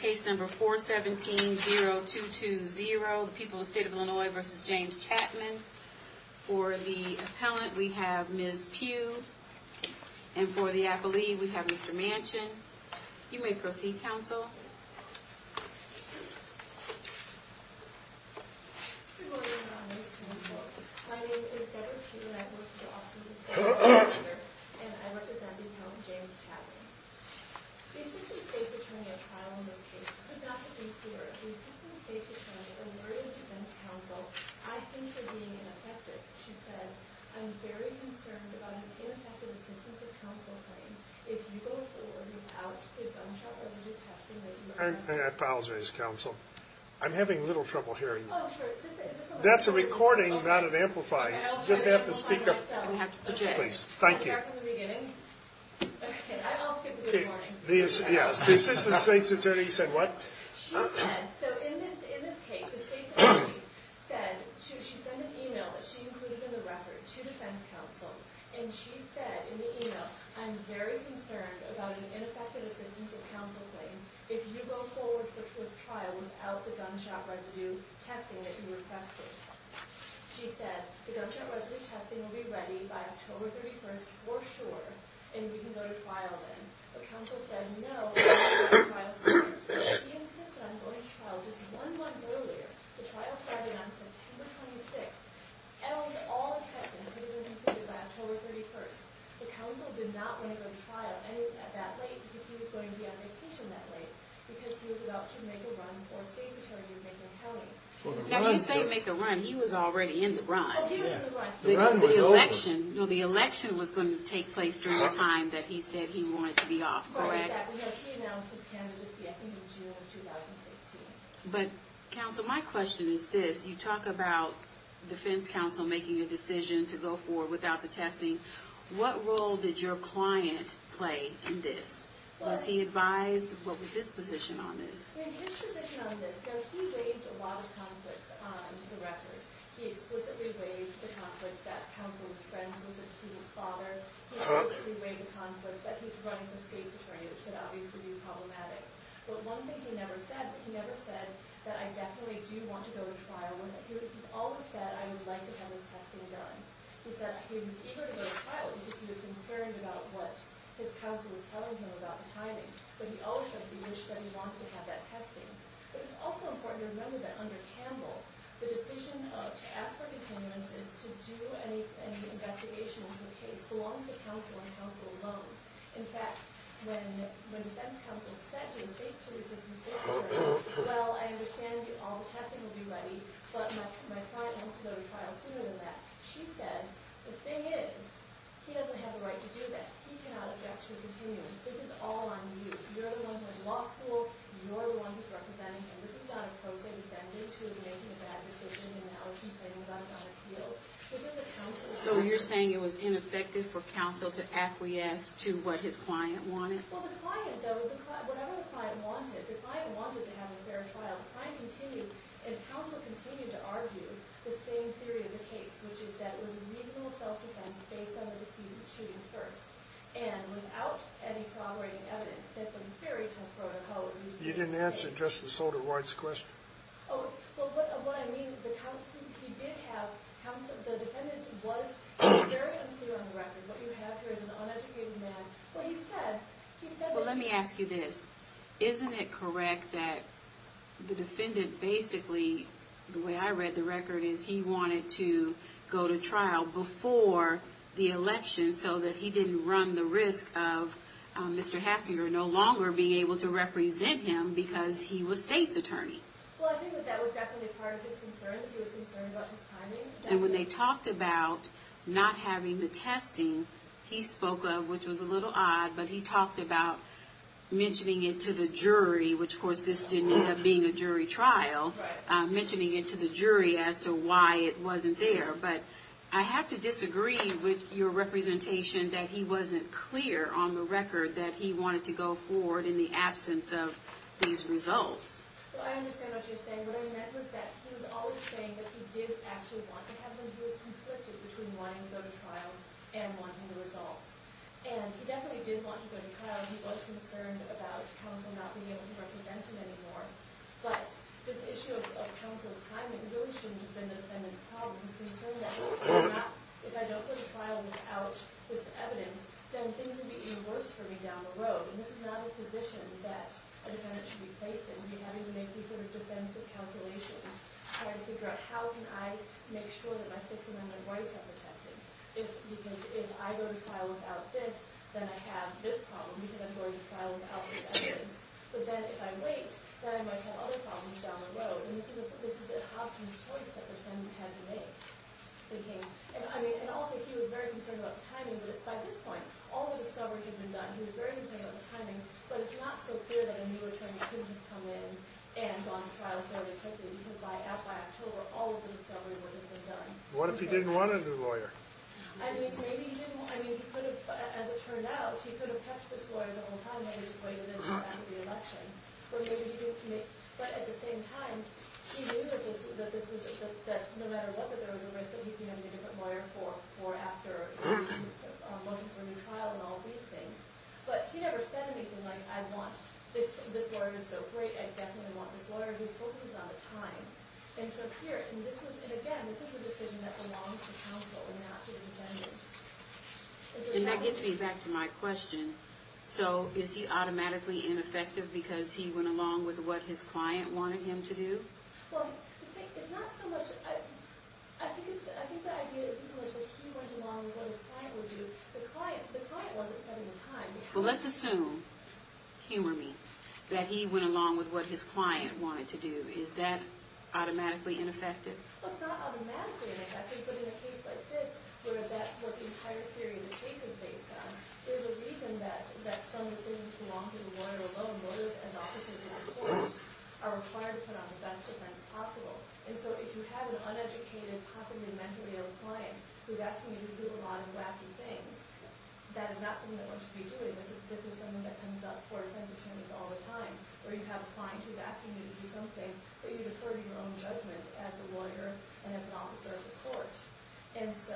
Case number 417-0220, the people of the State of Illinois v. James Chatham. For the appellant, we have Ms. Pugh. And for the appellee, we have Mr. Manchin. You may proceed, counsel. Good morning, Your Honor. My name is Deborah Pugh, and I work for the Office of the State Court of Appeal, and I represent the count of James Chatham. The Assistant State's Attorney at trial in this case could not have been clearer. The Assistant State's Attorney alerted defense counsel, I think you're being ineffective. She said, I'm very concerned about an ineffective assistance of counsel claim if you go forward without the gunshot-resolute testing that you requested. I apologize, counsel. I'm having a little trouble hearing you. Oh, sure. Is this on? That's a recording, not an amplified. I'll try to amplify myself. Would you please? Thank you. I'll start from the beginning. Okay, I'll skip it this morning. The Assistant State's Attorney said what? She said, so in this case, the State's Attorney said, she sent an email that she included in the record to defense counsel, and she said in the email, I'm very concerned about an ineffective assistance of counsel claim if you go forward for trial without the gunshot-resolute testing that you requested. She said, the gunshot-resolute testing will be ready by October 31st for sure, and we can go to trial then. But counsel said, no, we have to go to trial soon. He insisted on going to trial just one month earlier. The trial started on September 26th, and all the testing could have been completed by October 31st. But counsel did not want to go to trial at that late because he was going to be on vacation that late because he was about to make a run for State's Attorney in Macon County. Now when you say make a run, he was already in the run. The run was over. No, the election was going to take place during the time that he said he wanted to be off, correct? No, he announced his candidacy I think in June of 2016. But counsel, my question is this. You talk about defense counsel making a decision to go forward without the testing. What role did your client play in this? Was he advised? What was his position on this? His position on this, though, he waived a lot of conflicts on the record. He explicitly waived the conflict that counsel was friends with the decedent's father. He explicitly waived the conflict that he's running for State's Attorney, which could obviously be problematic. But one thing he never said, he never said that I definitely do want to go to trial when he always said I would like to have this testing done. He said he was eager to go to trial because he was concerned about what his counsel was telling him about the timing. But he always said he wished that he wanted to have that testing. But it's also important to remember that under Campbell, the decision to ask for continuances to do any investigation into the case belongs to counsel and counsel alone. In fact, when defense counsel said to the Assistant State Attorney, well, I understand all the testing will be ready, but my client wants to go to trial sooner than that. She said, the thing is, he doesn't have a right to do this. He cannot object to a continuance. This is all on you. You're the one who went to law school. You're the one who's representing him. This is not a pro se defendant who is making a bad decision and now is complaining about it on appeal. So you're saying it was ineffective for counsel to acquiesce to what his client wanted? Well, the client, though, whatever the client wanted, the client wanted to have a fair trial. The client continued, and counsel continued to argue the same theory of the case, which is that it was a reasonable self-defense based on the decision to shoot him first. And without any corroborating evidence, that's a very tough protocol. You didn't answer just the sold-awards question. Oh, well, what I mean is the counsel, he did have counsel. The defendant was very unclear on the record. What you have here is an uneducated man. Well, he said, he said... Well, let me ask you this. Isn't it correct that the defendant basically, the way I read the record, is he wanted to go to trial before the election so that he didn't run the risk of Mr. Hassinger no longer being able to represent him because he was state's attorney? Well, I think that that was definitely part of his concerns. He was concerned about his timing. And when they talked about not having the testing, he spoke of, which was a little odd, but he talked about mentioning it to the jury, which, of course, this didn't end up being a jury trial, mentioning it to the jury as to why it wasn't there. But I have to disagree with your representation that he wasn't clear on the record that he wanted to go forward in the absence of these results. Well, I understand what you're saying. What I meant was that he was always saying that he did actually want to have them. He was conflicted between wanting to go to trial and wanting the results. And he definitely did want to go to trial. He was concerned about counsel not being able to represent him anymore. But this issue of counsel's timing really shouldn't have been the defendant's problem. He was concerned that if I don't go to trial without this evidence, then things would be even worse for me down the road. And this is not a position that a defendant should be facing, having to make these sort of defensive calculations trying to figure out how can I make sure that my 6th Amendment rights are protected. If I go to trial without this, then I have this problem because I'm going to trial without this evidence. But then if I wait, then I might have other problems down the road. And this is a Hobson's choice that the defendant had to make. And also, he was very concerned about timing. But by this point, all the discovery had been done. He was very concerned about the timing. But it's not so clear that a new attorney couldn't have come in and gone to trial fairly quickly because by October, all of the discovery would have been done. What if he didn't want a new lawyer? I mean, maybe he didn't. I mean, as it turned out, he could have kept this lawyer the whole time. He could have waited until after the election. But at the same time, he knew that no matter what, that there was a risk that he could have a different lawyer for after a motion for a new trial and all these things. But he never said anything like, I want this lawyer who's so great. I definitely want this lawyer who's focused on the time. And so here, and again, this was a decision that belonged to counsel and not to the defendant. And that gets me back to my question. So is he automatically ineffective because he went along with what his client wanted him to do? Well, it's not so much. I think the idea isn't so much that he went along with what his client would do. The client wasn't setting a time. Well, let's assume, humor me, that he went along with what his client wanted to do. Is that automatically ineffective? Well, it's not automatically ineffective. But in a case like this, where that's what the entire theory of the case is based on, there's a reason that some decisions that belong to the lawyer alone, lawyers as officers in the courts, are required to put on the best defense possible. And so if you have an uneducated, possibly mentally ill client who's asking you to do a lot of wacky things, that is not something that one should be doing. This is something that comes up for defense attorneys all the time, where you have a client who's asking you to do something that you defer to your own judgment as a lawyer and as an officer of the court. And so...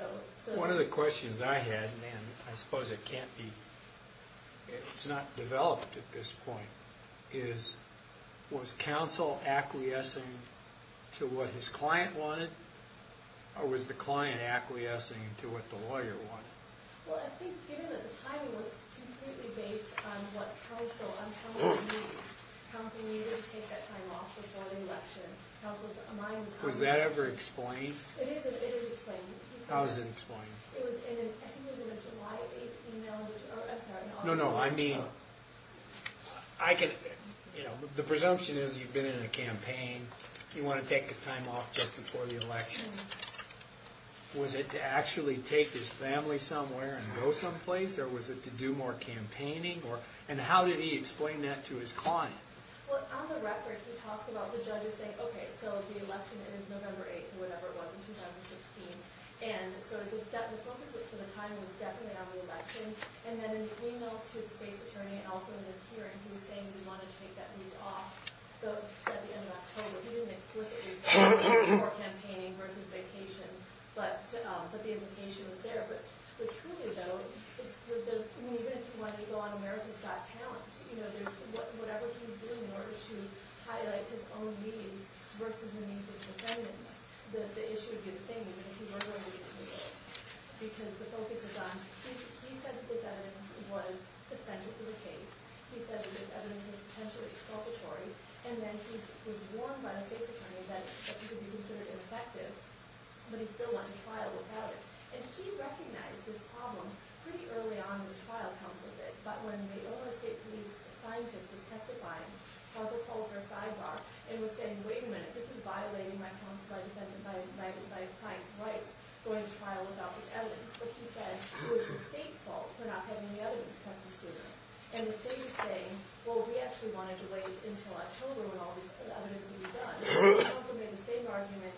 One of the questions I had, and I suppose it can't be... it's not developed at this point, is, was counsel acquiescing to what his client wanted, or was the client acquiescing to what the lawyer wanted? Well, I think given that the timing was completely based on what counsel needs, counsel needed to take that time off before the election. Was that ever explained? It is explained. How is it explained? It was in a July 8th email, which... No, no, I mean... I can... The presumption is you've been in a campaign, you want to take the time off just before the election. Was it to actually take his family somewhere and go someplace, or was it to do more campaigning? And how did he explain that to his client? Well, on the record, he talks about the judges saying, okay, so the election is November 8th, or whatever it was, in 2016, and so the focus for the time was definitely on the election. And then in the email to the state's attorney, and also in his hearing, he was saying he wanted to take that leave off at the end of October. He didn't explicitly say before campaigning versus vacation, but the implication was there. But Trulia, though, even if you wanted to go on America's Got Talent, whatever he's doing in order to highlight his own needs versus the needs of his defendants, the issue would be the same, even if he weren't going to be in the polls. Because the focus is on... He said that this evidence was essential to the case. He said that this evidence was potentially exculpatory. And then he was warned by the state's attorney that he could be considered ineffective, but he still went to trial without it. And he recognized this problem pretty early on in the trial, but when the Illinois State Police scientist was testifying, Hauser called her sidebar and was saying, wait a minute, this is violating my client's rights going to trial without this evidence. But he said it was the state's fault for not having the evidence tested sooner. And the state was saying, well, we actually wanted to wait until October when all this evidence would be done. Hauser made the same argument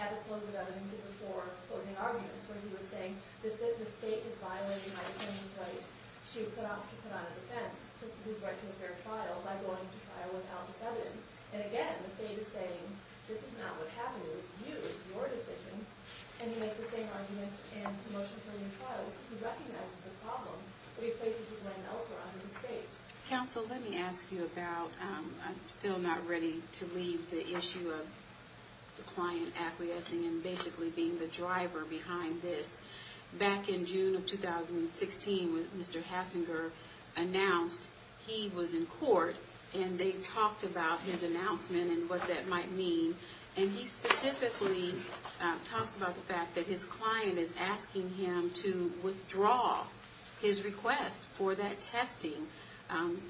at the close of evidence before closing arguments, where he was saying, the state is violating my attorney's right to put on a defense, his right to a fair trial, by going to trial without this evidence. And again, the state is saying, this is not what happened, it was you, your decision. And he makes the same argument in promotion for new trials. He recognizes the problem, but he places his land elsewhere under the state. Counsel, let me ask you about... I'm still not ready to leave the issue of the client acquiescing and basically being the driver behind this. Back in June of 2016, when Mr. Hassinger announced he was in court and they talked about his announcement and what that might mean, and he specifically talks about the fact that his client is asking him to withdraw his request for that testing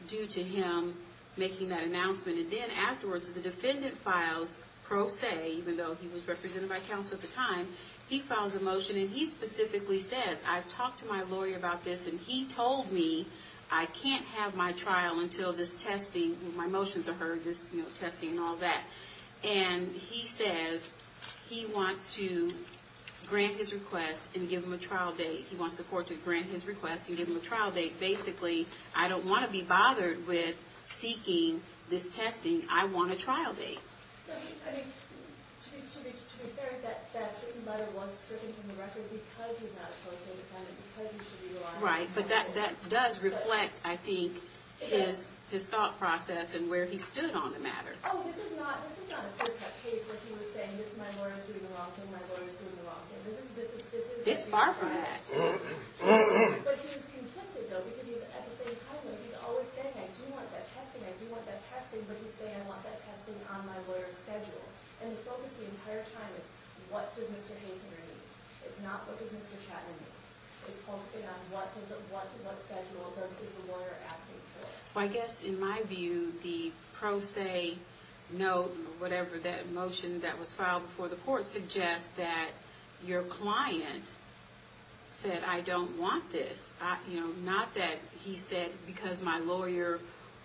due to him making that announcement. And then afterwards, the defendant files pro se, even though he was represented by counsel at the time, he files a motion, and he specifically says, I've talked to my lawyer about this, and he told me I can't have my trial until this testing, my motions are heard, this testing and all that. And he says he wants to grant his request and give him a trial date. He wants the court to grant his request and give him a trial date. Basically, I don't want to be bothered with seeking this testing. I want a trial date. I mean, to be fair, that chicken butter was stricken from the record because he's not a pro se defendant, because he should be a lawyer. Right, but that does reflect, I think, his thought process and where he stood on the matter. Oh, this is not a clear-cut case where he was saying, my lawyer's doing the wrong thing, my lawyer's doing the wrong thing. It's far from that. But he was conflicted, though, because at the same time, he was always saying, I do want that testing, I do want that testing, but he's saying, I want that testing on my lawyer's schedule. And the focus the entire time is, what does Mr. Hastings need? It's not, what does Mr. Chapman need? It's focusing on what schedule versus the lawyer asking for it. Well, I guess, in my view, the pro se note, whatever that motion that was filed before the court, suggests that your client said, I don't want this. Not that he said, because my lawyer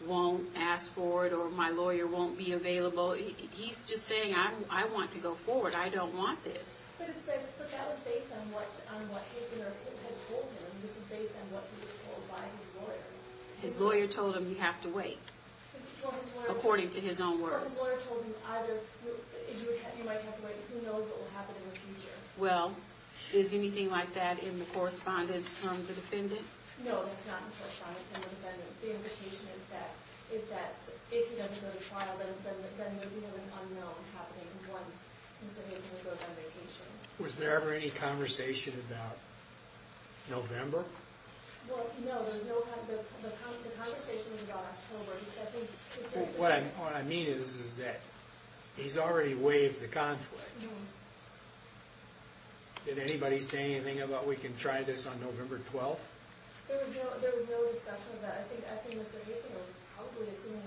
won't ask for it, or my lawyer won't be available. He's just saying, I want to go forward. I don't want this. But that was based on what Hastings had told him. This is based on what he was told by his lawyer. His lawyer told him, you have to wait. According to his own words. Or his lawyer told him, either you might have to wait, who knows what will happen in the future. Well, is anything like that in the correspondence from the defendant? No, that's not in the correspondence from the defendant. The implication is that, if he doesn't go to trial, then there will be an unknown happening once Mr. Hastings goes on vacation. Was there ever any conversation about November? Well, no. The conversation was about October. What I mean is that he's already waived the conflict. Did anybody say anything about we can try this on November 12th? There was no discussion about that. I think Mr. Hastings was probably assuming,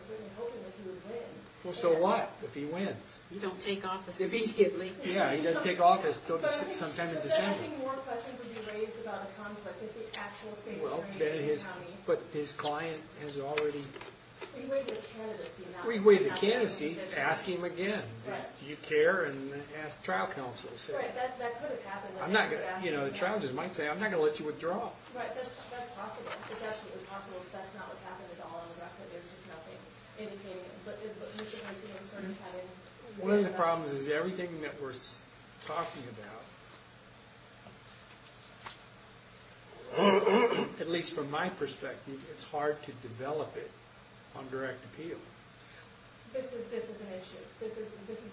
certainly hoping that he would win. Well, so what if he wins? You don't take office immediately. Yeah, he doesn't take office until sometime in December. But then I think more questions would be raised about a conflict if the actual state attorney in the county... But his client has already... We waived the candidacy. We waived the candidacy. Ask him again. Do you care? And ask trial counsel. That could have happened. The trial judge might say, I'm not going to let you withdraw. Right, that's possible. It's absolutely possible. That's not what happened at all in the record. There's just nothing indicating it. But Mr. Hastings sort of having... One of the problems is everything that we're talking about, at least from my perspective, it's hard to develop it on direct appeal. This is an issue. This is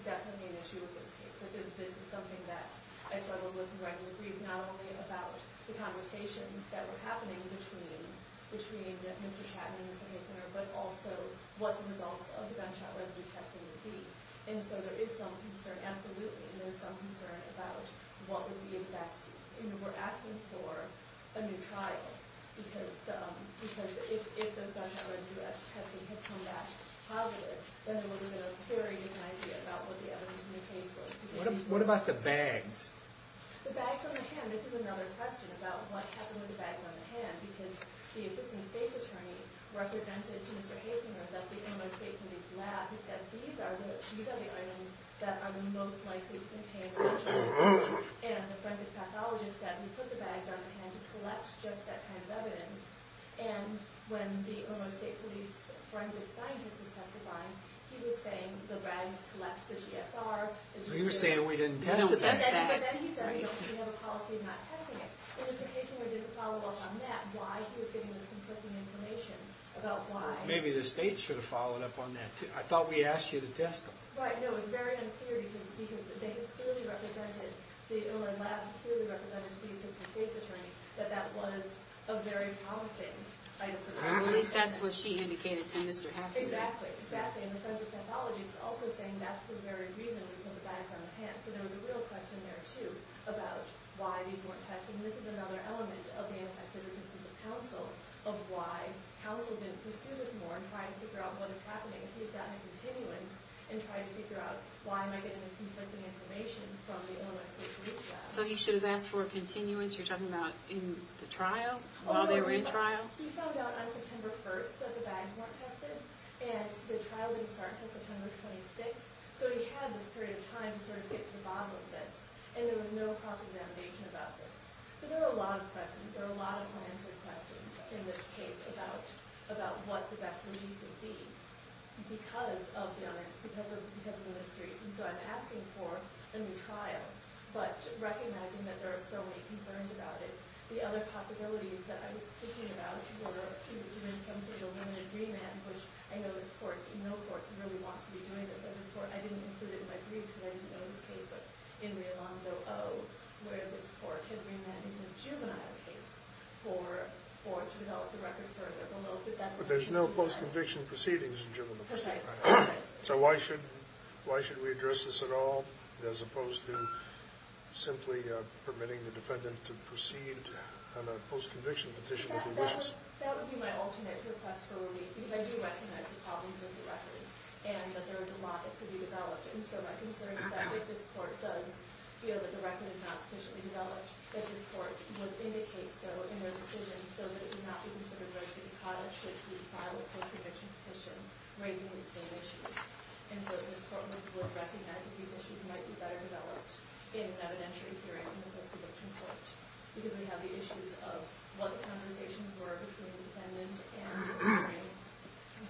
definitely an issue with this case. This is something that I struggle with regularly. Not only about the conversations that were happening between Mr. Chatton and Mr. Hastings, but also what the results of the gunshot residue testing would be. And so there is some concern, absolutely. There's some concern about what would be best. We're asking for a new trial. Because if the gunshot residue testing had come back positive, then there would have been a very different idea about what the evidence in the case was. What about the bags? The bags on the hand. This is another question about what happened with the bags on the hand. Because the assistant state's attorney represented to Mr. Hastings that the Omo State Police lab had said these are the items that are most likely to contain the gunshot residue. And the forensic pathologist said we put the bags on the hand to collect just that kind of evidence. And when the Omo State Police forensic scientist was testifying, he was saying the rags collect the GSR. He was saying we didn't test them. But then he said we don't have a policy of not testing it. And Mr. Hastings didn't follow up on that, why he was giving this conflicting information about why. Maybe the state should have followed up on that, too. I thought we asked you to test them. Right, no, it's very unclear because they clearly represented, the Illinois lab clearly represented the assistant state's attorney, that that was a very promising item. At least that's what she indicated to Mr. Hastings. Exactly, exactly. And the forensic pathologist was also saying that's the very reason we put the bags on the hand. So there was a real question there, too, about why these weren't tested. And this is another element of the ineffectiveness of the counsel, of why counsel didn't pursue this more and try to figure out what is happening. He had gotten a continuance and tried to figure out why am I getting this conflicting information from the Omo State Police lab. So he should have asked for a continuance, you're talking about in the trial, while they were in trial? He found out on September 1st that the bags weren't tested. And the trial didn't start until September 26th. So he had this period of time to sort of get to the bottom of this. And there was no cross-examination about this. So there are a lot of questions, there are a lot of unanswered questions in this case about what the best relief would be because of the onerous, because of the mysteries. And so I'm asking for a new trial, but recognizing that there are so many concerns about it. The other possibilities that I was thinking about were to even come to an agreement, which I know this court, the middle court, really wants to be doing this. I didn't include it in my brief because I didn't know this case, but in the Alonzo O, where this court had remanded the juvenile case to develop the record further. But there's no post-conviction proceedings in juvenile proceedings. So why should we address this at all as opposed to simply permitting the defendant to proceed on a post-conviction petition with the wishes? That would be my alternate request for relief because I do recognize the problems with the record and that there is a lot that could be developed. And so my concern is that if this court does feel that the record is not sufficiently developed, that this court would indicate so in their decision so that it could not be considered versus being caught up should it be filed a post-conviction petition raising the same issues. And so this court would recognize that these issues might be better developed in an evidentiary hearing in the post-conviction court because we have the issues of what the conversations were between the defendant and the jury,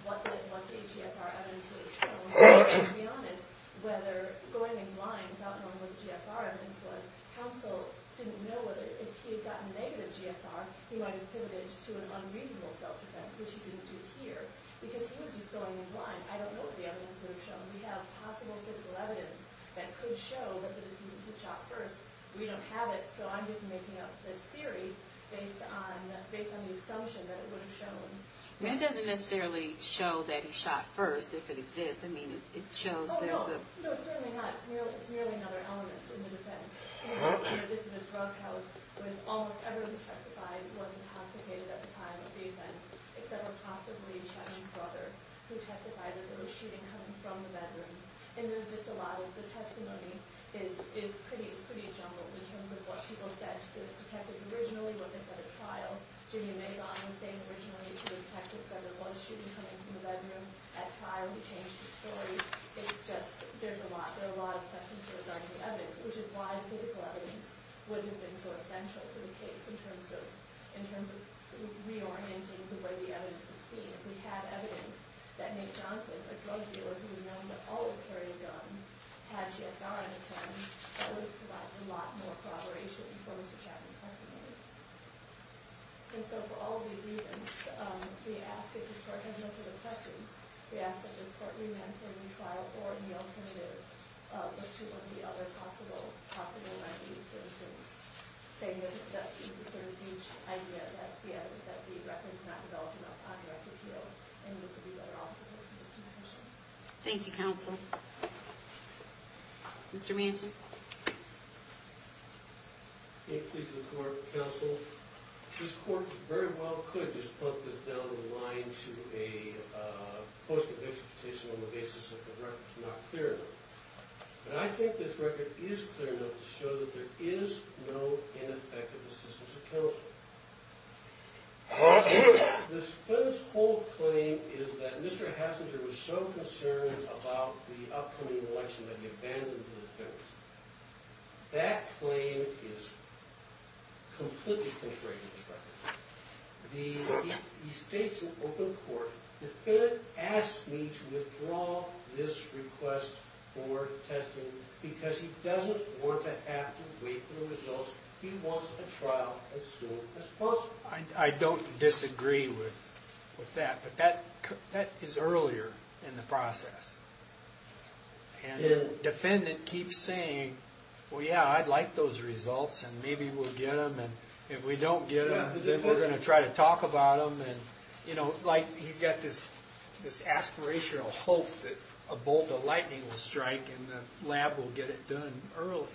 what the HGSR evidence would have shown, and to be honest, whether going in blind without knowing what the GSR evidence was, counsel didn't know whether if he had gotten negative GSR, he might have pivoted to an unreasonable self-defense, which he didn't do here, because he was just going in blind. I don't know what the evidence would have shown. We have possible fiscal evidence that could show that the decision could be shot first. We don't have it, so I'm just making up this theory based on the assumption that it would have shown. But it doesn't necessarily show that he shot first, if it exists. I mean, it shows there's a... Oh, no. No, certainly not. It's merely another element in the defense. This is a drug house with almost everyone who testified wasn't intoxicated at the time of the offense, except for possibly Chetan's brother, who testified that there was shooting coming from the bedroom. And there's just a lot of... It's pretty jumbled in terms of what people said to the detectives originally, what they said at trial. Jimmy Magon was saying originally to the detectives that there was shooting coming from the bedroom at trial. He changed his story. It's just... There's a lot. There are a lot of questions regarding the evidence, which is why the physical evidence wouldn't have been so essential to the case in terms of reorienting the way the evidence is seen. If we have evidence that Nate Johnson, a drug dealer who was known to always carry a gun, had GSR on his hand, that would provide a lot more corroboration for Mr. Chetan's testimony. And so for all of these reasons, we ask that this court has no further questions. We ask that this court re-manifold in trial or in the alternative look to one of the other possible remedies, for instance, saying that each idea that the evidence, that the record's not developed enough on direct appeal and needs to be lettered off to the Supreme Court. Thank you, counsel. Mr. Manchin. Nate, please, before counsel. This court very well could just bump this down the line to a post-conviction petition on the basis that the record's not clear enough. But I think this record is clear enough to show that there is no ineffective assistance of counsel. This Finnick's whole claim is that Mr. Hassinger was so concerned about the upcoming election that he abandoned the defendants. That claim is completely contrary to this record. He states in open court, the defendant asks me to withdraw this request for testing because he doesn't want to have to wait for the results. He wants a trial as soon as possible. I don't disagree with that. But that is earlier in the process. And the defendant keeps saying, well, yeah, I'd like those results, and maybe we'll get them. And if we don't get them, then we're going to try to talk about them. You know, like, he's got this aspirational hope that a bolt of lightning will strike and the lab will get it done early.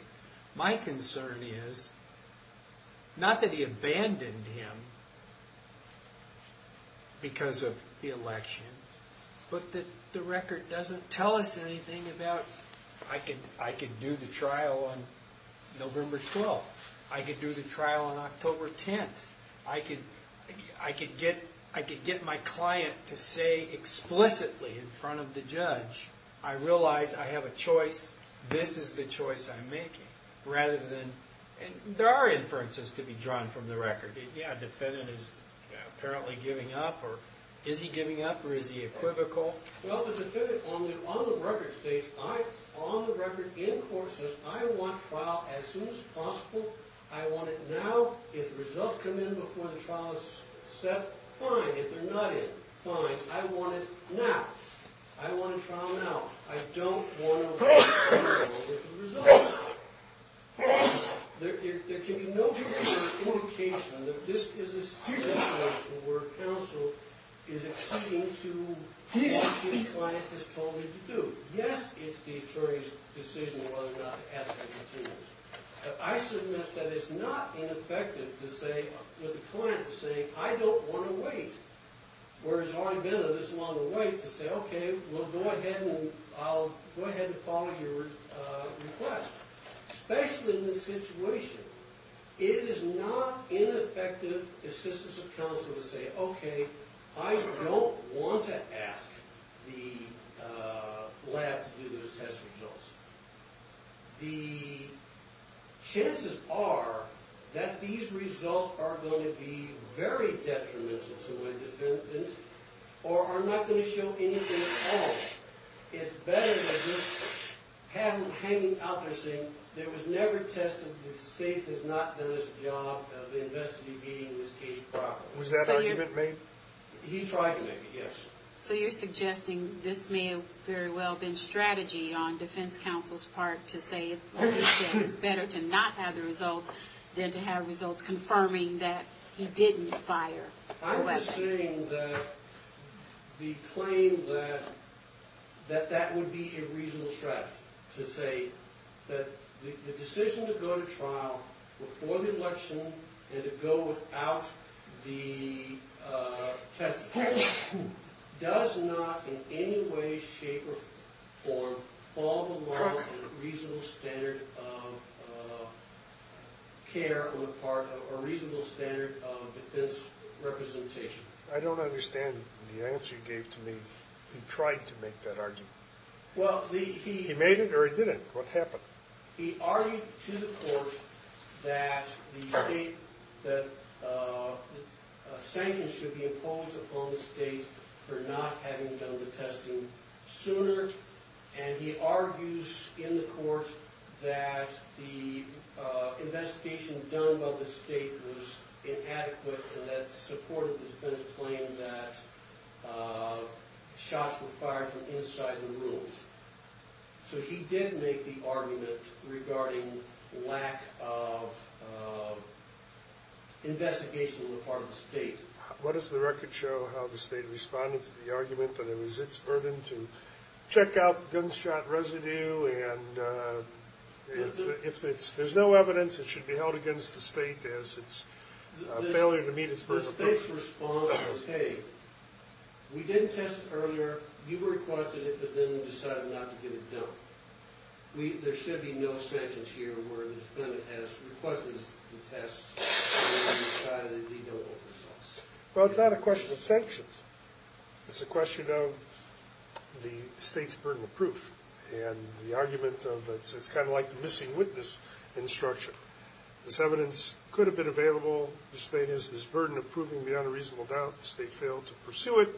My concern is, not that he abandoned him because of the election, but that the record doesn't tell us anything about, I could do the trial on November 12th. I could do the trial on October 10th. I could get my client to say explicitly in front of the judge, I realize I have a choice. This is the choice I'm making. There are inferences to be drawn from the record. Yeah, defendant is apparently giving up. Is he giving up or is he equivocal? Well, the defendant on the record states, on the record, in court, says, I want trial as soon as possible. I want it now. If the results come in before the trial is set, fine. If they're not in, fine. I want it now. I want a trial now. I don't want to wait any longer for the results. There can be no indication that this is a situation where counsel is accepting to what the client has told him to do. Yes, it's the attorney's decision whether or not to ask for details. But I submit that it's not ineffective to say, with the client saying, I don't want to wait. Where it's already been this long of a wait to say, okay, we'll go ahead and I'll go ahead and follow your request. Especially in this situation, it is not ineffective assistance of counsel to say, okay, I don't want to ask the lab to do those test results. The chances are that these results are going to be very detrimental to my defendant or are not going to show anything at all. It's better than just hanging out there saying it was never tested. The state has not done its job of investigating this case properly. Was that argument made? He tried to make it, yes. So you're suggesting this may have very well been strategy on defense counsel's part to say it's better to not have the results than to have results confirming that he didn't fire the weapon. I'm just saying that the claim that that would be a reasonable strategy to say that the decision to go to trial before the election and to go without the test results does not in any way, shape, or form fall below a reasonable standard of care on the part of a reasonable standard of defense representation. I don't understand the answer you gave to me. He tried to make that argument. He made it or he didn't. What happened? He argued to the court that the state, that sanctions should be imposed upon the state for not having done the testing sooner and he argues in the court that the investigation done by the state was inadequate and that supported the defense's claim that shots were fired from inside the rooms. So he did make the argument regarding lack of investigation on the part of the state. What does the record show how the state responded to the argument that it was its burden to check out the gunshot residue and if there's no evidence it should be held against the state as it's a failure to meet its burden of proof? The state's response was, hey, we didn't test it earlier. You requested it but then decided not to get it done. There should be no sanctions here where the defendant has requested the tests and then decided legal oversaws. Well, it's not a question of sanctions. It's a question of the state's burden of proof and the argument of it. So it's kind of like the missing witness in the structure. This evidence could have been available. The state has this burden of proving beyond a reasonable doubt. The state failed to pursue it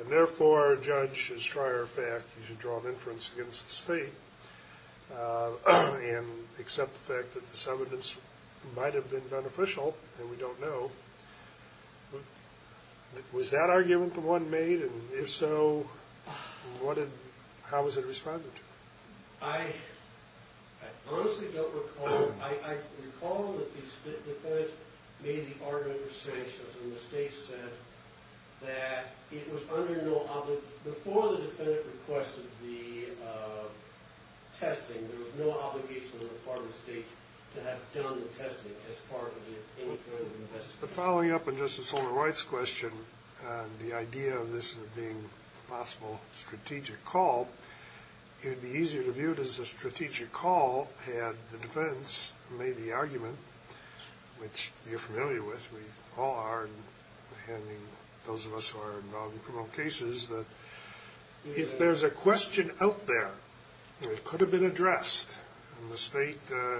and therefore a judge should try our fact. You should draw an inference against the state and accept the fact that this evidence might have been beneficial and we don't know. Was that argument the one made? If so, how was it responded to? I honestly don't recall. I recall that the defendant made the argument for sanctions and the state said that it was under no obligation. Before the defendant requested the testing, there was no obligation on the part of the state to have done the testing as part of its interim investigation. Following up on Justice Sotomayor's question and the idea of this being a possible strategic call, it would be easier to view it as a strategic call had the defense made the argument, which you're familiar with, we all are, and those of us who are involved in criminal cases, that if there's a question out there that could have been addressed and the state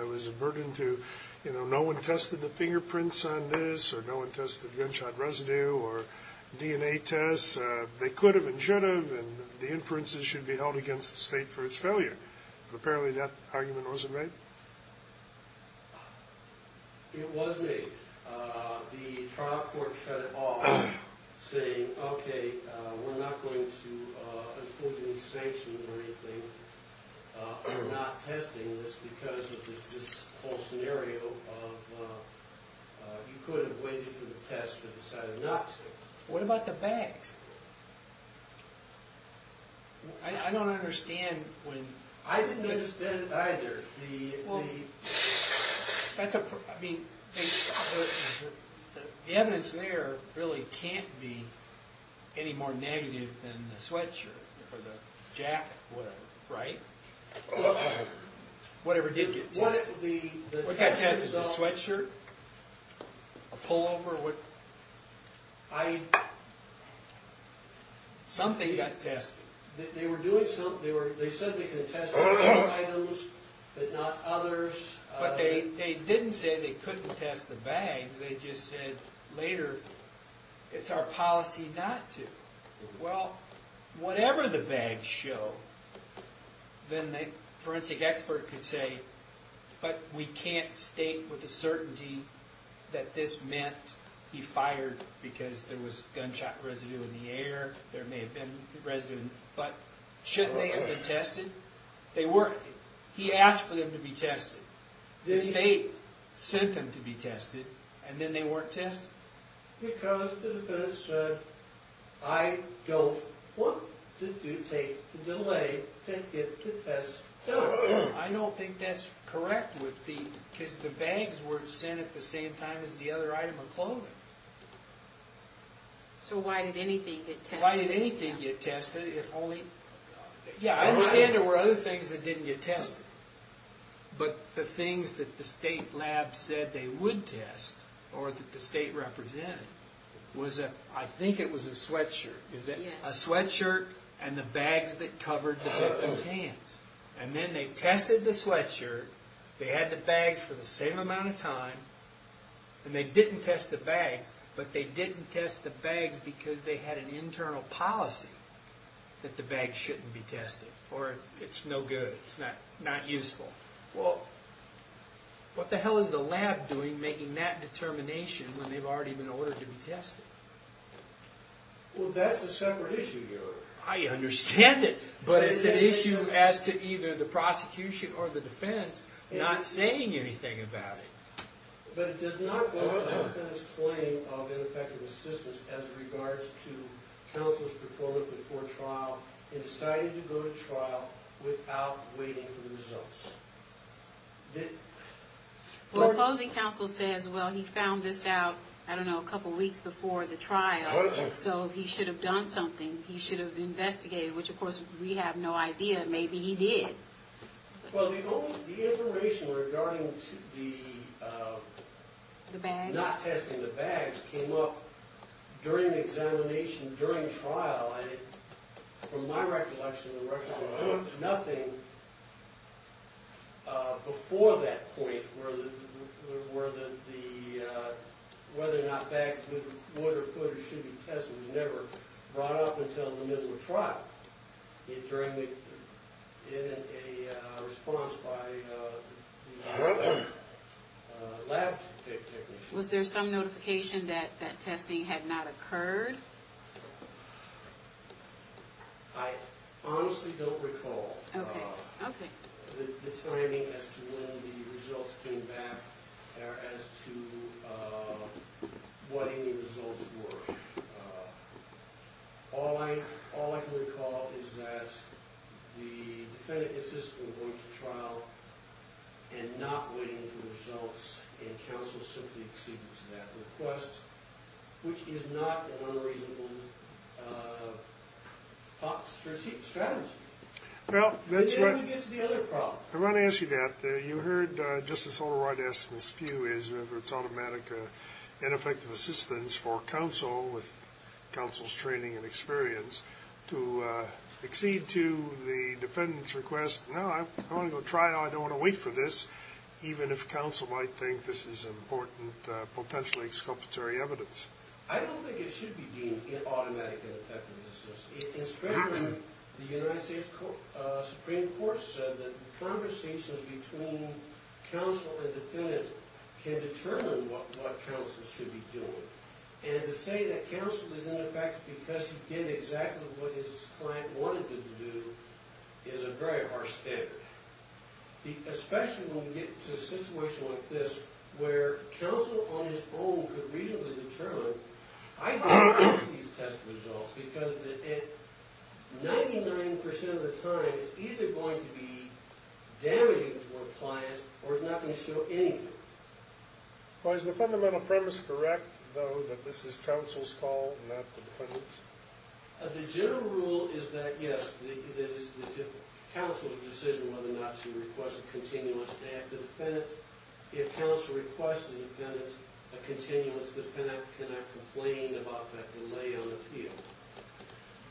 was a burden to, you know, no one tested the fingerprints on this or no one tested the gunshot residue or DNA tests, they could have and should have and the inferences should be held against the state for its failure. Apparently that argument wasn't made? It was made. The trial court shut it off saying, okay, we're not going to impose any sanctions or anything. We're not testing this because of this whole scenario of you could have waited for the test but decided not to. What about the bags? I don't understand when... I didn't understand either. The evidence there really can't be any more negative than the sweatshirt or the jacket or whatever, right? Whatever did get tested. What got tested? The sweatshirt? A pullover? Something got tested. They were doing something. They said they could test other items but not others. But they didn't say they couldn't test the bags. They just said later, it's our policy not to. Well, whatever the bags show, then the forensic expert could say, but we can't state with a certainty that this meant he fired because there was gunshot residue in the air. There may have been residue, but shouldn't they have been tested? They weren't. He asked for them to be tested. The state sent them to be tested, and then they weren't tested. Because the defense said, I don't want to take the delay to get the tests done. I don't think that's correct, because the bags were sent at the same time as the other item of clothing. So why did anything get tested? Why did anything get tested if only... Yeah, I understand there were other things that didn't get tested, but the things that the state lab said they would test or that the state represented was, I think it was a sweatshirt. Yes. A sweatshirt and the bags that covered the victim's hands. And then they tested the sweatshirt. They had the bags for the same amount of time. And they didn't test the bags, but they didn't test the bags because they had an internal policy that the bags shouldn't be tested or it's no good, it's not useful. Well, what the hell is the lab doing making that determination when they've already been ordered to be tested? Well, that's a separate issue, Your Honor. I understand it, but it's an issue as to either the prosecution or the defense not saying anything about it. But it does not go up in its claim of ineffective assistance as regards to counsel's performance before trial in deciding to go to trial without waiting for the results. Well, opposing counsel says, well, he found this out, I don't know, a couple weeks before the trial, so he should have done something. He should have investigated, which, of course, we have no idea. Maybe he did. Well, the information regarding not testing the bags came up during the examination during trial. From my recollection, there was nothing before that point where whether or not bags would or could or should be tested was never brought up until the middle of trial in a response by the lab technicians. Was there some notification that testing had not occurred? I honestly don't recall the timing as to when the results came back or as to what any results were. All I can recall is that the defendant insisted on going to trial and not waiting for the results, and counsel simply acceded to that request, which is not an unreasonable strategy. And then we get to the other problem. I want to ask you that. You heard Justice Holder-Wright ask this a few ways, whether it's automatic ineffective assistance for counsel with counsel's training and experience to accede to the defendant's request. No, I want to go to trial. I don't want to wait for this, even if counsel might think this is important, potentially exculpatory evidence. I don't think it should be deemed automatic ineffective assistance. In spring, the United States Supreme Court said that conversations between counsel and defendant can determine what counsel should be doing. And to say that counsel is ineffective because he did exactly what his client wanted him to do is a very harsh standard, especially when we get to a situation like this where counsel on his own could reasonably determine, I don't like these test results because 99% of the time it's either going to be damaging to a client or it's not going to show anything. Well, is the fundamental premise correct, though, that this is counsel's call and not the defendant's? The general rule is that, yes, that it's counsel's decision whether or not to request a continuous act. If counsel requests a continuous, the defendant cannot complain about that delay on appeal.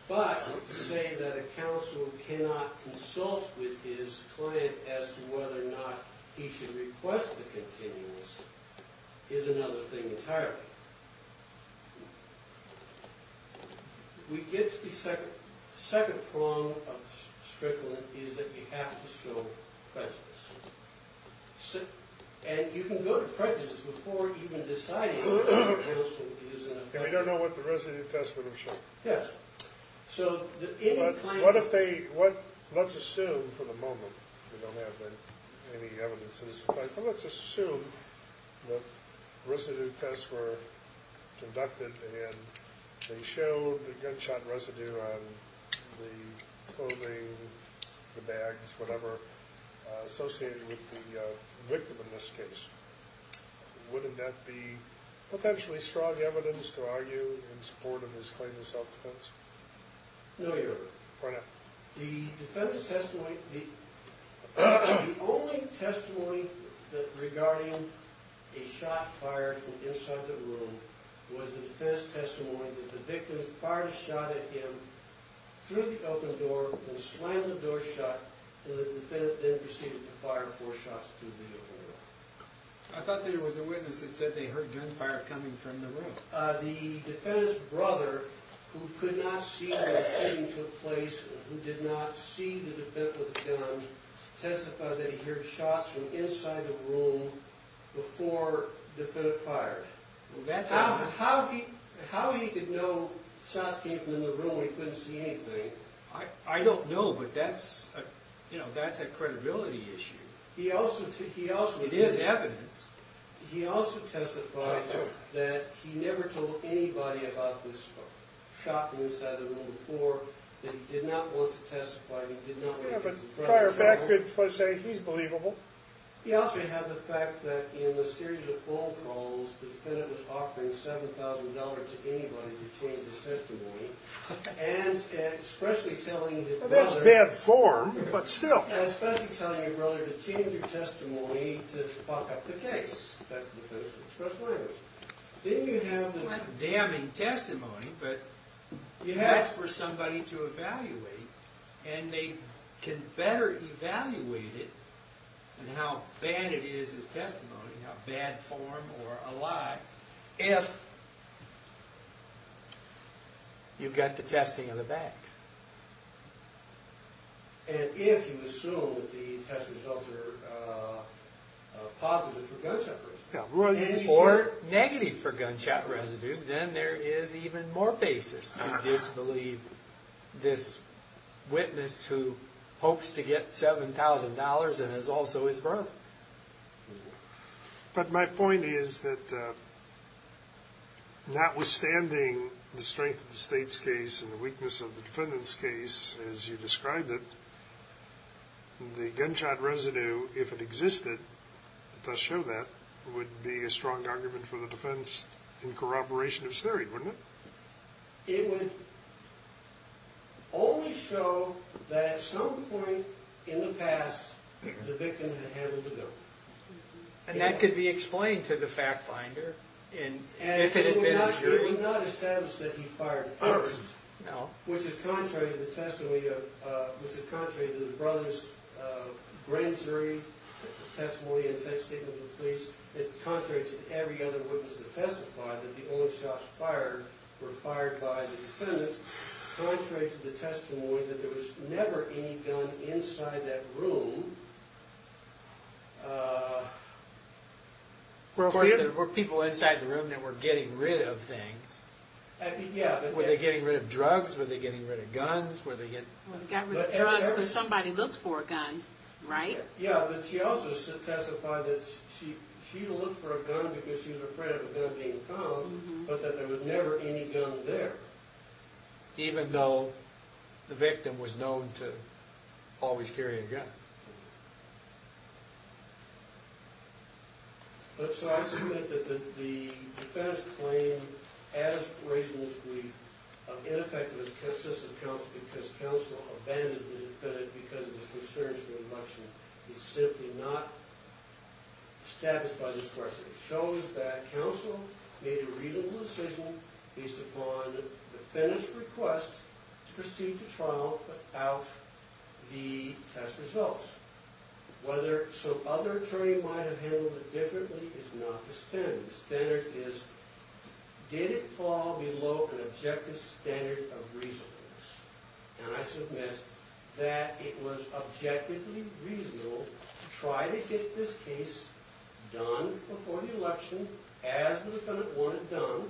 But to say that a counsel cannot consult with his client as to whether or not he should request the continuous is another thing entirely. We get to the second prong of strickling, is that you have to show prejudice. And you can go to prejudice before even deciding whether or not counsel is ineffective. And we don't know what the residue tests would have shown. Yes. So what if they, let's assume for the moment, we don't have any evidences, but let's assume that residue tests were conducted and they showed the gunshot residue on the clothing, the bags, whatever, associated with the victim in this case. Wouldn't that be potentially strong evidence to argue in support of his claim of self-defense? No, Your Honor. Why not? The defense testimony, the only testimony regarding a shot fired from inside the room was the defense testimony that the victim fired a shot at him through the open door, then slammed the door shut, and the defendant then proceeded to fire four shots through the open door. I thought there was a witness that said they heard gunfire coming from the room. The defendant's brother, who could not see when the shooting took place, who did not see the defendant with a gun, testified that he heard shots from inside the room before the defendant fired. How he could know shots came from in the room and he couldn't see anything, I don't know, but that's a credibility issue. It is evidence. He also testified that he never told anybody about this shot from inside the room before, that he did not want to testify, he did not want to get his brother in trouble. Yeah, but prior background for saying he's believable. He also had the fact that in a series of phone calls, the defendant was offering $7,000 to anybody to change his testimony, and especially telling his brother... Well, that's bad form, but still. Yeah, especially telling your brother to change your testimony to buck up the case. That's the defense's express language. Then you have the... And they can better evaluate it, and how bad it is as testimony, how bad form or a lie, if you've got the testing of the facts. Or negative for gunshot residue, then there is even more basis to disbelieve this witness who hopes to get $7,000, and is also his brother. But my point is that notwithstanding the strength of the state's case and the weakness of the defendant's case, as you described it, the gunshot residue, if it existed, it does show that, would be a strong argument for the defense in corroboration of his theory, wouldn't it? It would only show that at some point in the past, the victim had handled the gun. And that could be explained to the fact finder, if it had been true. And it would not establish that he fired first, which is contrary to the testimony of... which is contrary to the brother's grand jury testimony and such statement of the police. It's contrary to every other witness that testified that the only shots fired were fired by the defendant. It's contrary to the testimony that there was never any gun inside that room. Of course, there were people inside the room that were getting rid of things. Were they getting rid of drugs? Were they getting rid of guns? They got rid of drugs, but somebody looked for a gun, right? Yeah, but she also testified that she looked for a gun because she was afraid of a gun being found, but that there was never any gun there, even though the victim was known to always carry a gun. So I submit that the defendant's claim, as raised in this brief, in effect was consistent because counsel abandoned the defendant because of his concerns for eviction. He's simply not established by discretion. It shows that counsel made a reasonable decision based upon the defendant's request to proceed to trial without the test results. Whether some other attorney might have handled it differently is not the standard. The standard is, did it fall below an objective standard of reasonableness? And I submit that it was objectively reasonable to try to get this case done before the election as the defendant wanted done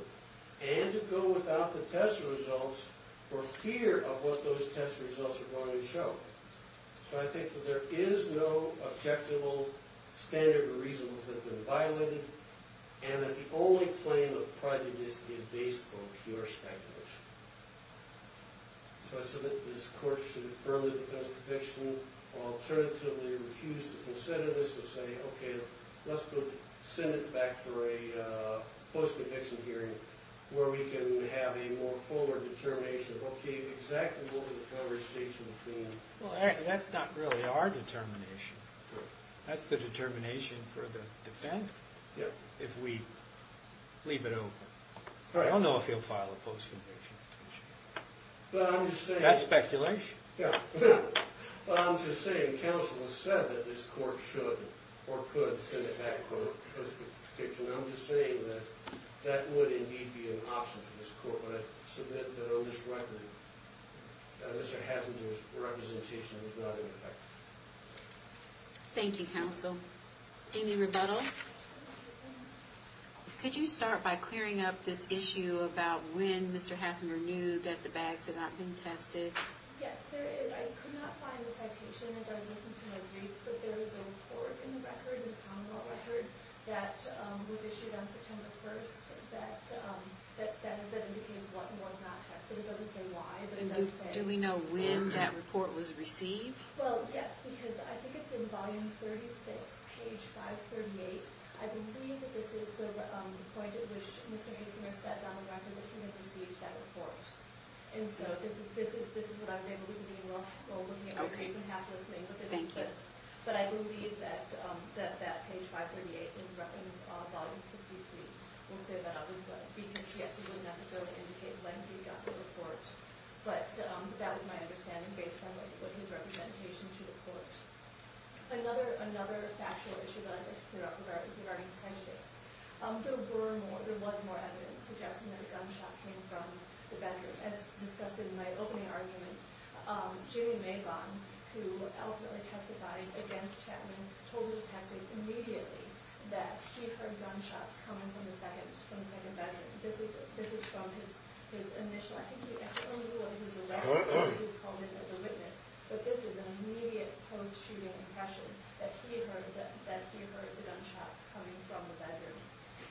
and to go without the test results for fear of what those test results are going to show. So I think that there is no objective standard of reasonableness that's been violated and that the only claim of prejudice is based on pure speculation. So I submit that this court should affirm the defendant's conviction or alternatively refuse to consider this and say, okay, let's send it back for a post-eviction hearing where we can have a more fuller determination of, okay, exactly what was the conversation between... Well, that's not really our determination. That's the determination for the defendant? Yeah. If we leave it open. I don't know if he'll file a post-eviction petition. That's speculation. Yeah. I'm just saying counsel has said that this court should or could send it back for a post-eviction. I'm just saying that that would indeed be an option for this court, but I submit that on this record Mr. Hassinger's representation was not ineffective. Thank you, counsel. Amy Rebuttal? Could you start by clearing up this issue about when Mr. Hassinger knew that the bags had not been tested? Yes, there is. I could not find the citation as I was looking through my briefs, but there is a report in the record, the Commonwealth record, that was issued on September 1st that indicates what was not tested. It doesn't say why, but it does say when. Do we know when that report was received? Well, yes, because I think it's in volume 36, page 538. I believe this is the point at which Mr. Hassinger says on the record that he had received that report. And so this is what I was able to do while looking at your briefs and half-listening. Thank you. But I believe that page 538 in volume 63 will say that it was because he actually didn't necessarily indicate when he got the report. But that was my understanding based on his representation to the court. Another factual issue that I'd like to clear up is regarding prejudice. There was more evidence suggesting that a gunshot came from the bedroom. As discussed in my opening argument, Julian Mabon, who ultimately testified against Chapman, told the detective immediately that he heard gunshots coming from the second bedroom. This is from his initial... I think he actually only did what he was elected to do. He was called in as a witness. But this is an immediate post-shooting impression that he heard the gunshots coming from the bedroom.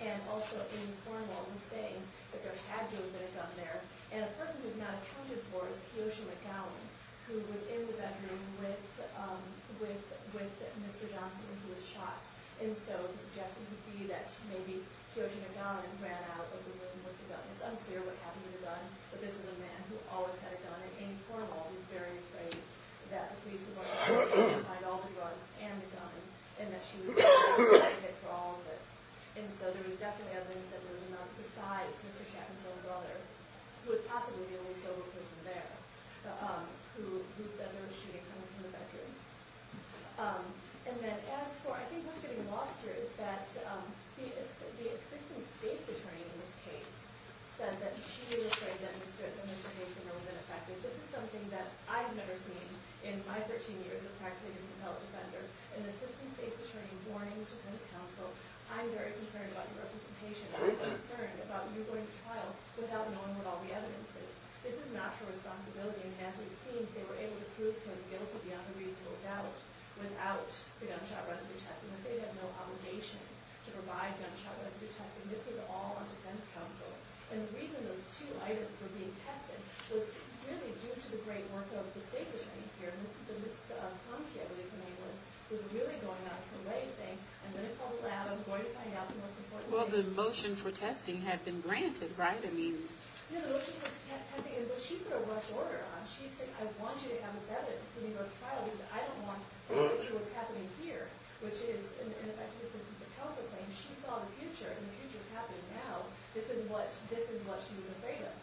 And also, Amy Cornwall was saying that there had to have been a gun there. And a person who's not accounted for is Kiyoshi McGowan, who was in the bedroom with Mr. Johnson, who was shot. And so the suggestion would be that maybe Kiyoshi McGowan ran out of the room with the gun. It's unclear what happened to the gun, but this is a man who always had a gun. And Amy Cornwall was very afraid that the police would go out and find all the drugs and the gun and that she was responsible for all of this. And so there was definitely evidence that there was a man besides Mr. Chapman's own brother, who was possibly the only sober person there, who proved that there was shooting coming from the bedroom. And then as for... I think what's getting lost here is that the assistant state's attorney in this case said that she was afraid that Mr. Mason was ineffective. This is something that I've never seen in my 13 years of practicing as a felon defender. I'm very concerned about the representation. I'm concerned about you going to trial without knowing what all the evidence is. This is not her responsibility, and as we've seen, they were able to prove her guilty beyond a reasonable doubt without the gunshot residue testing. The state has no obligation to provide gunshot residue testing. This was all on defense counsel. And the reason those two items were being tested was really due to the great work of the state's attorney here, who was really going out of her way, saying, I'm going to call the lab, I'm going to find out... Well, the motion for testing had been granted, right? Yeah, the motion for testing. But she put a rough order on it. She said, I want you to have evidence when you go to trial because I don't want to see what's happening here, which is, in effect, this is a proposal claim. She saw the future, and the future's happening now. This is what she was afraid of.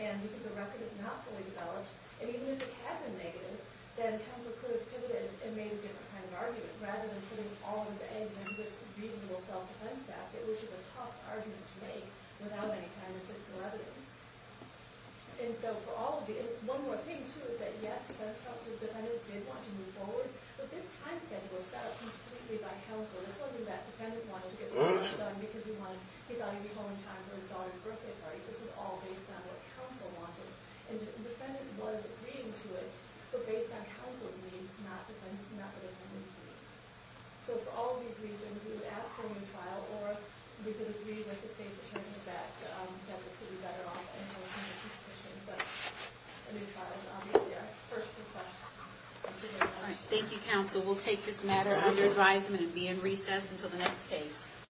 And because the record is not fully developed, and even if it had been negative, then counsel could have pivoted and made a different kind of argument rather than putting all of the evidence in this reasonable self-defense statute, which is a tough argument to make without any kind of fiscal evidence. And so for all of the... One more thing, too, is that, yes, that's how the defendant did want to move forward, but this time schedule was set up completely by counsel. This wasn't that defendant wanted to get the work done because he wanted to get out of your home in time for his daughter's birthday party. This was all based on what counsel wanted. And the defendant was agreeing to it, but based on counsel's needs, not the defendant's needs. So for all of these reasons, we would ask for a new trial, or we could agree with the state's attorney that that would be better off. But a new trial is obviously our first request. Thank you very much. Thank you, counsel. We'll take this matter under advisement and be in recess until the next case.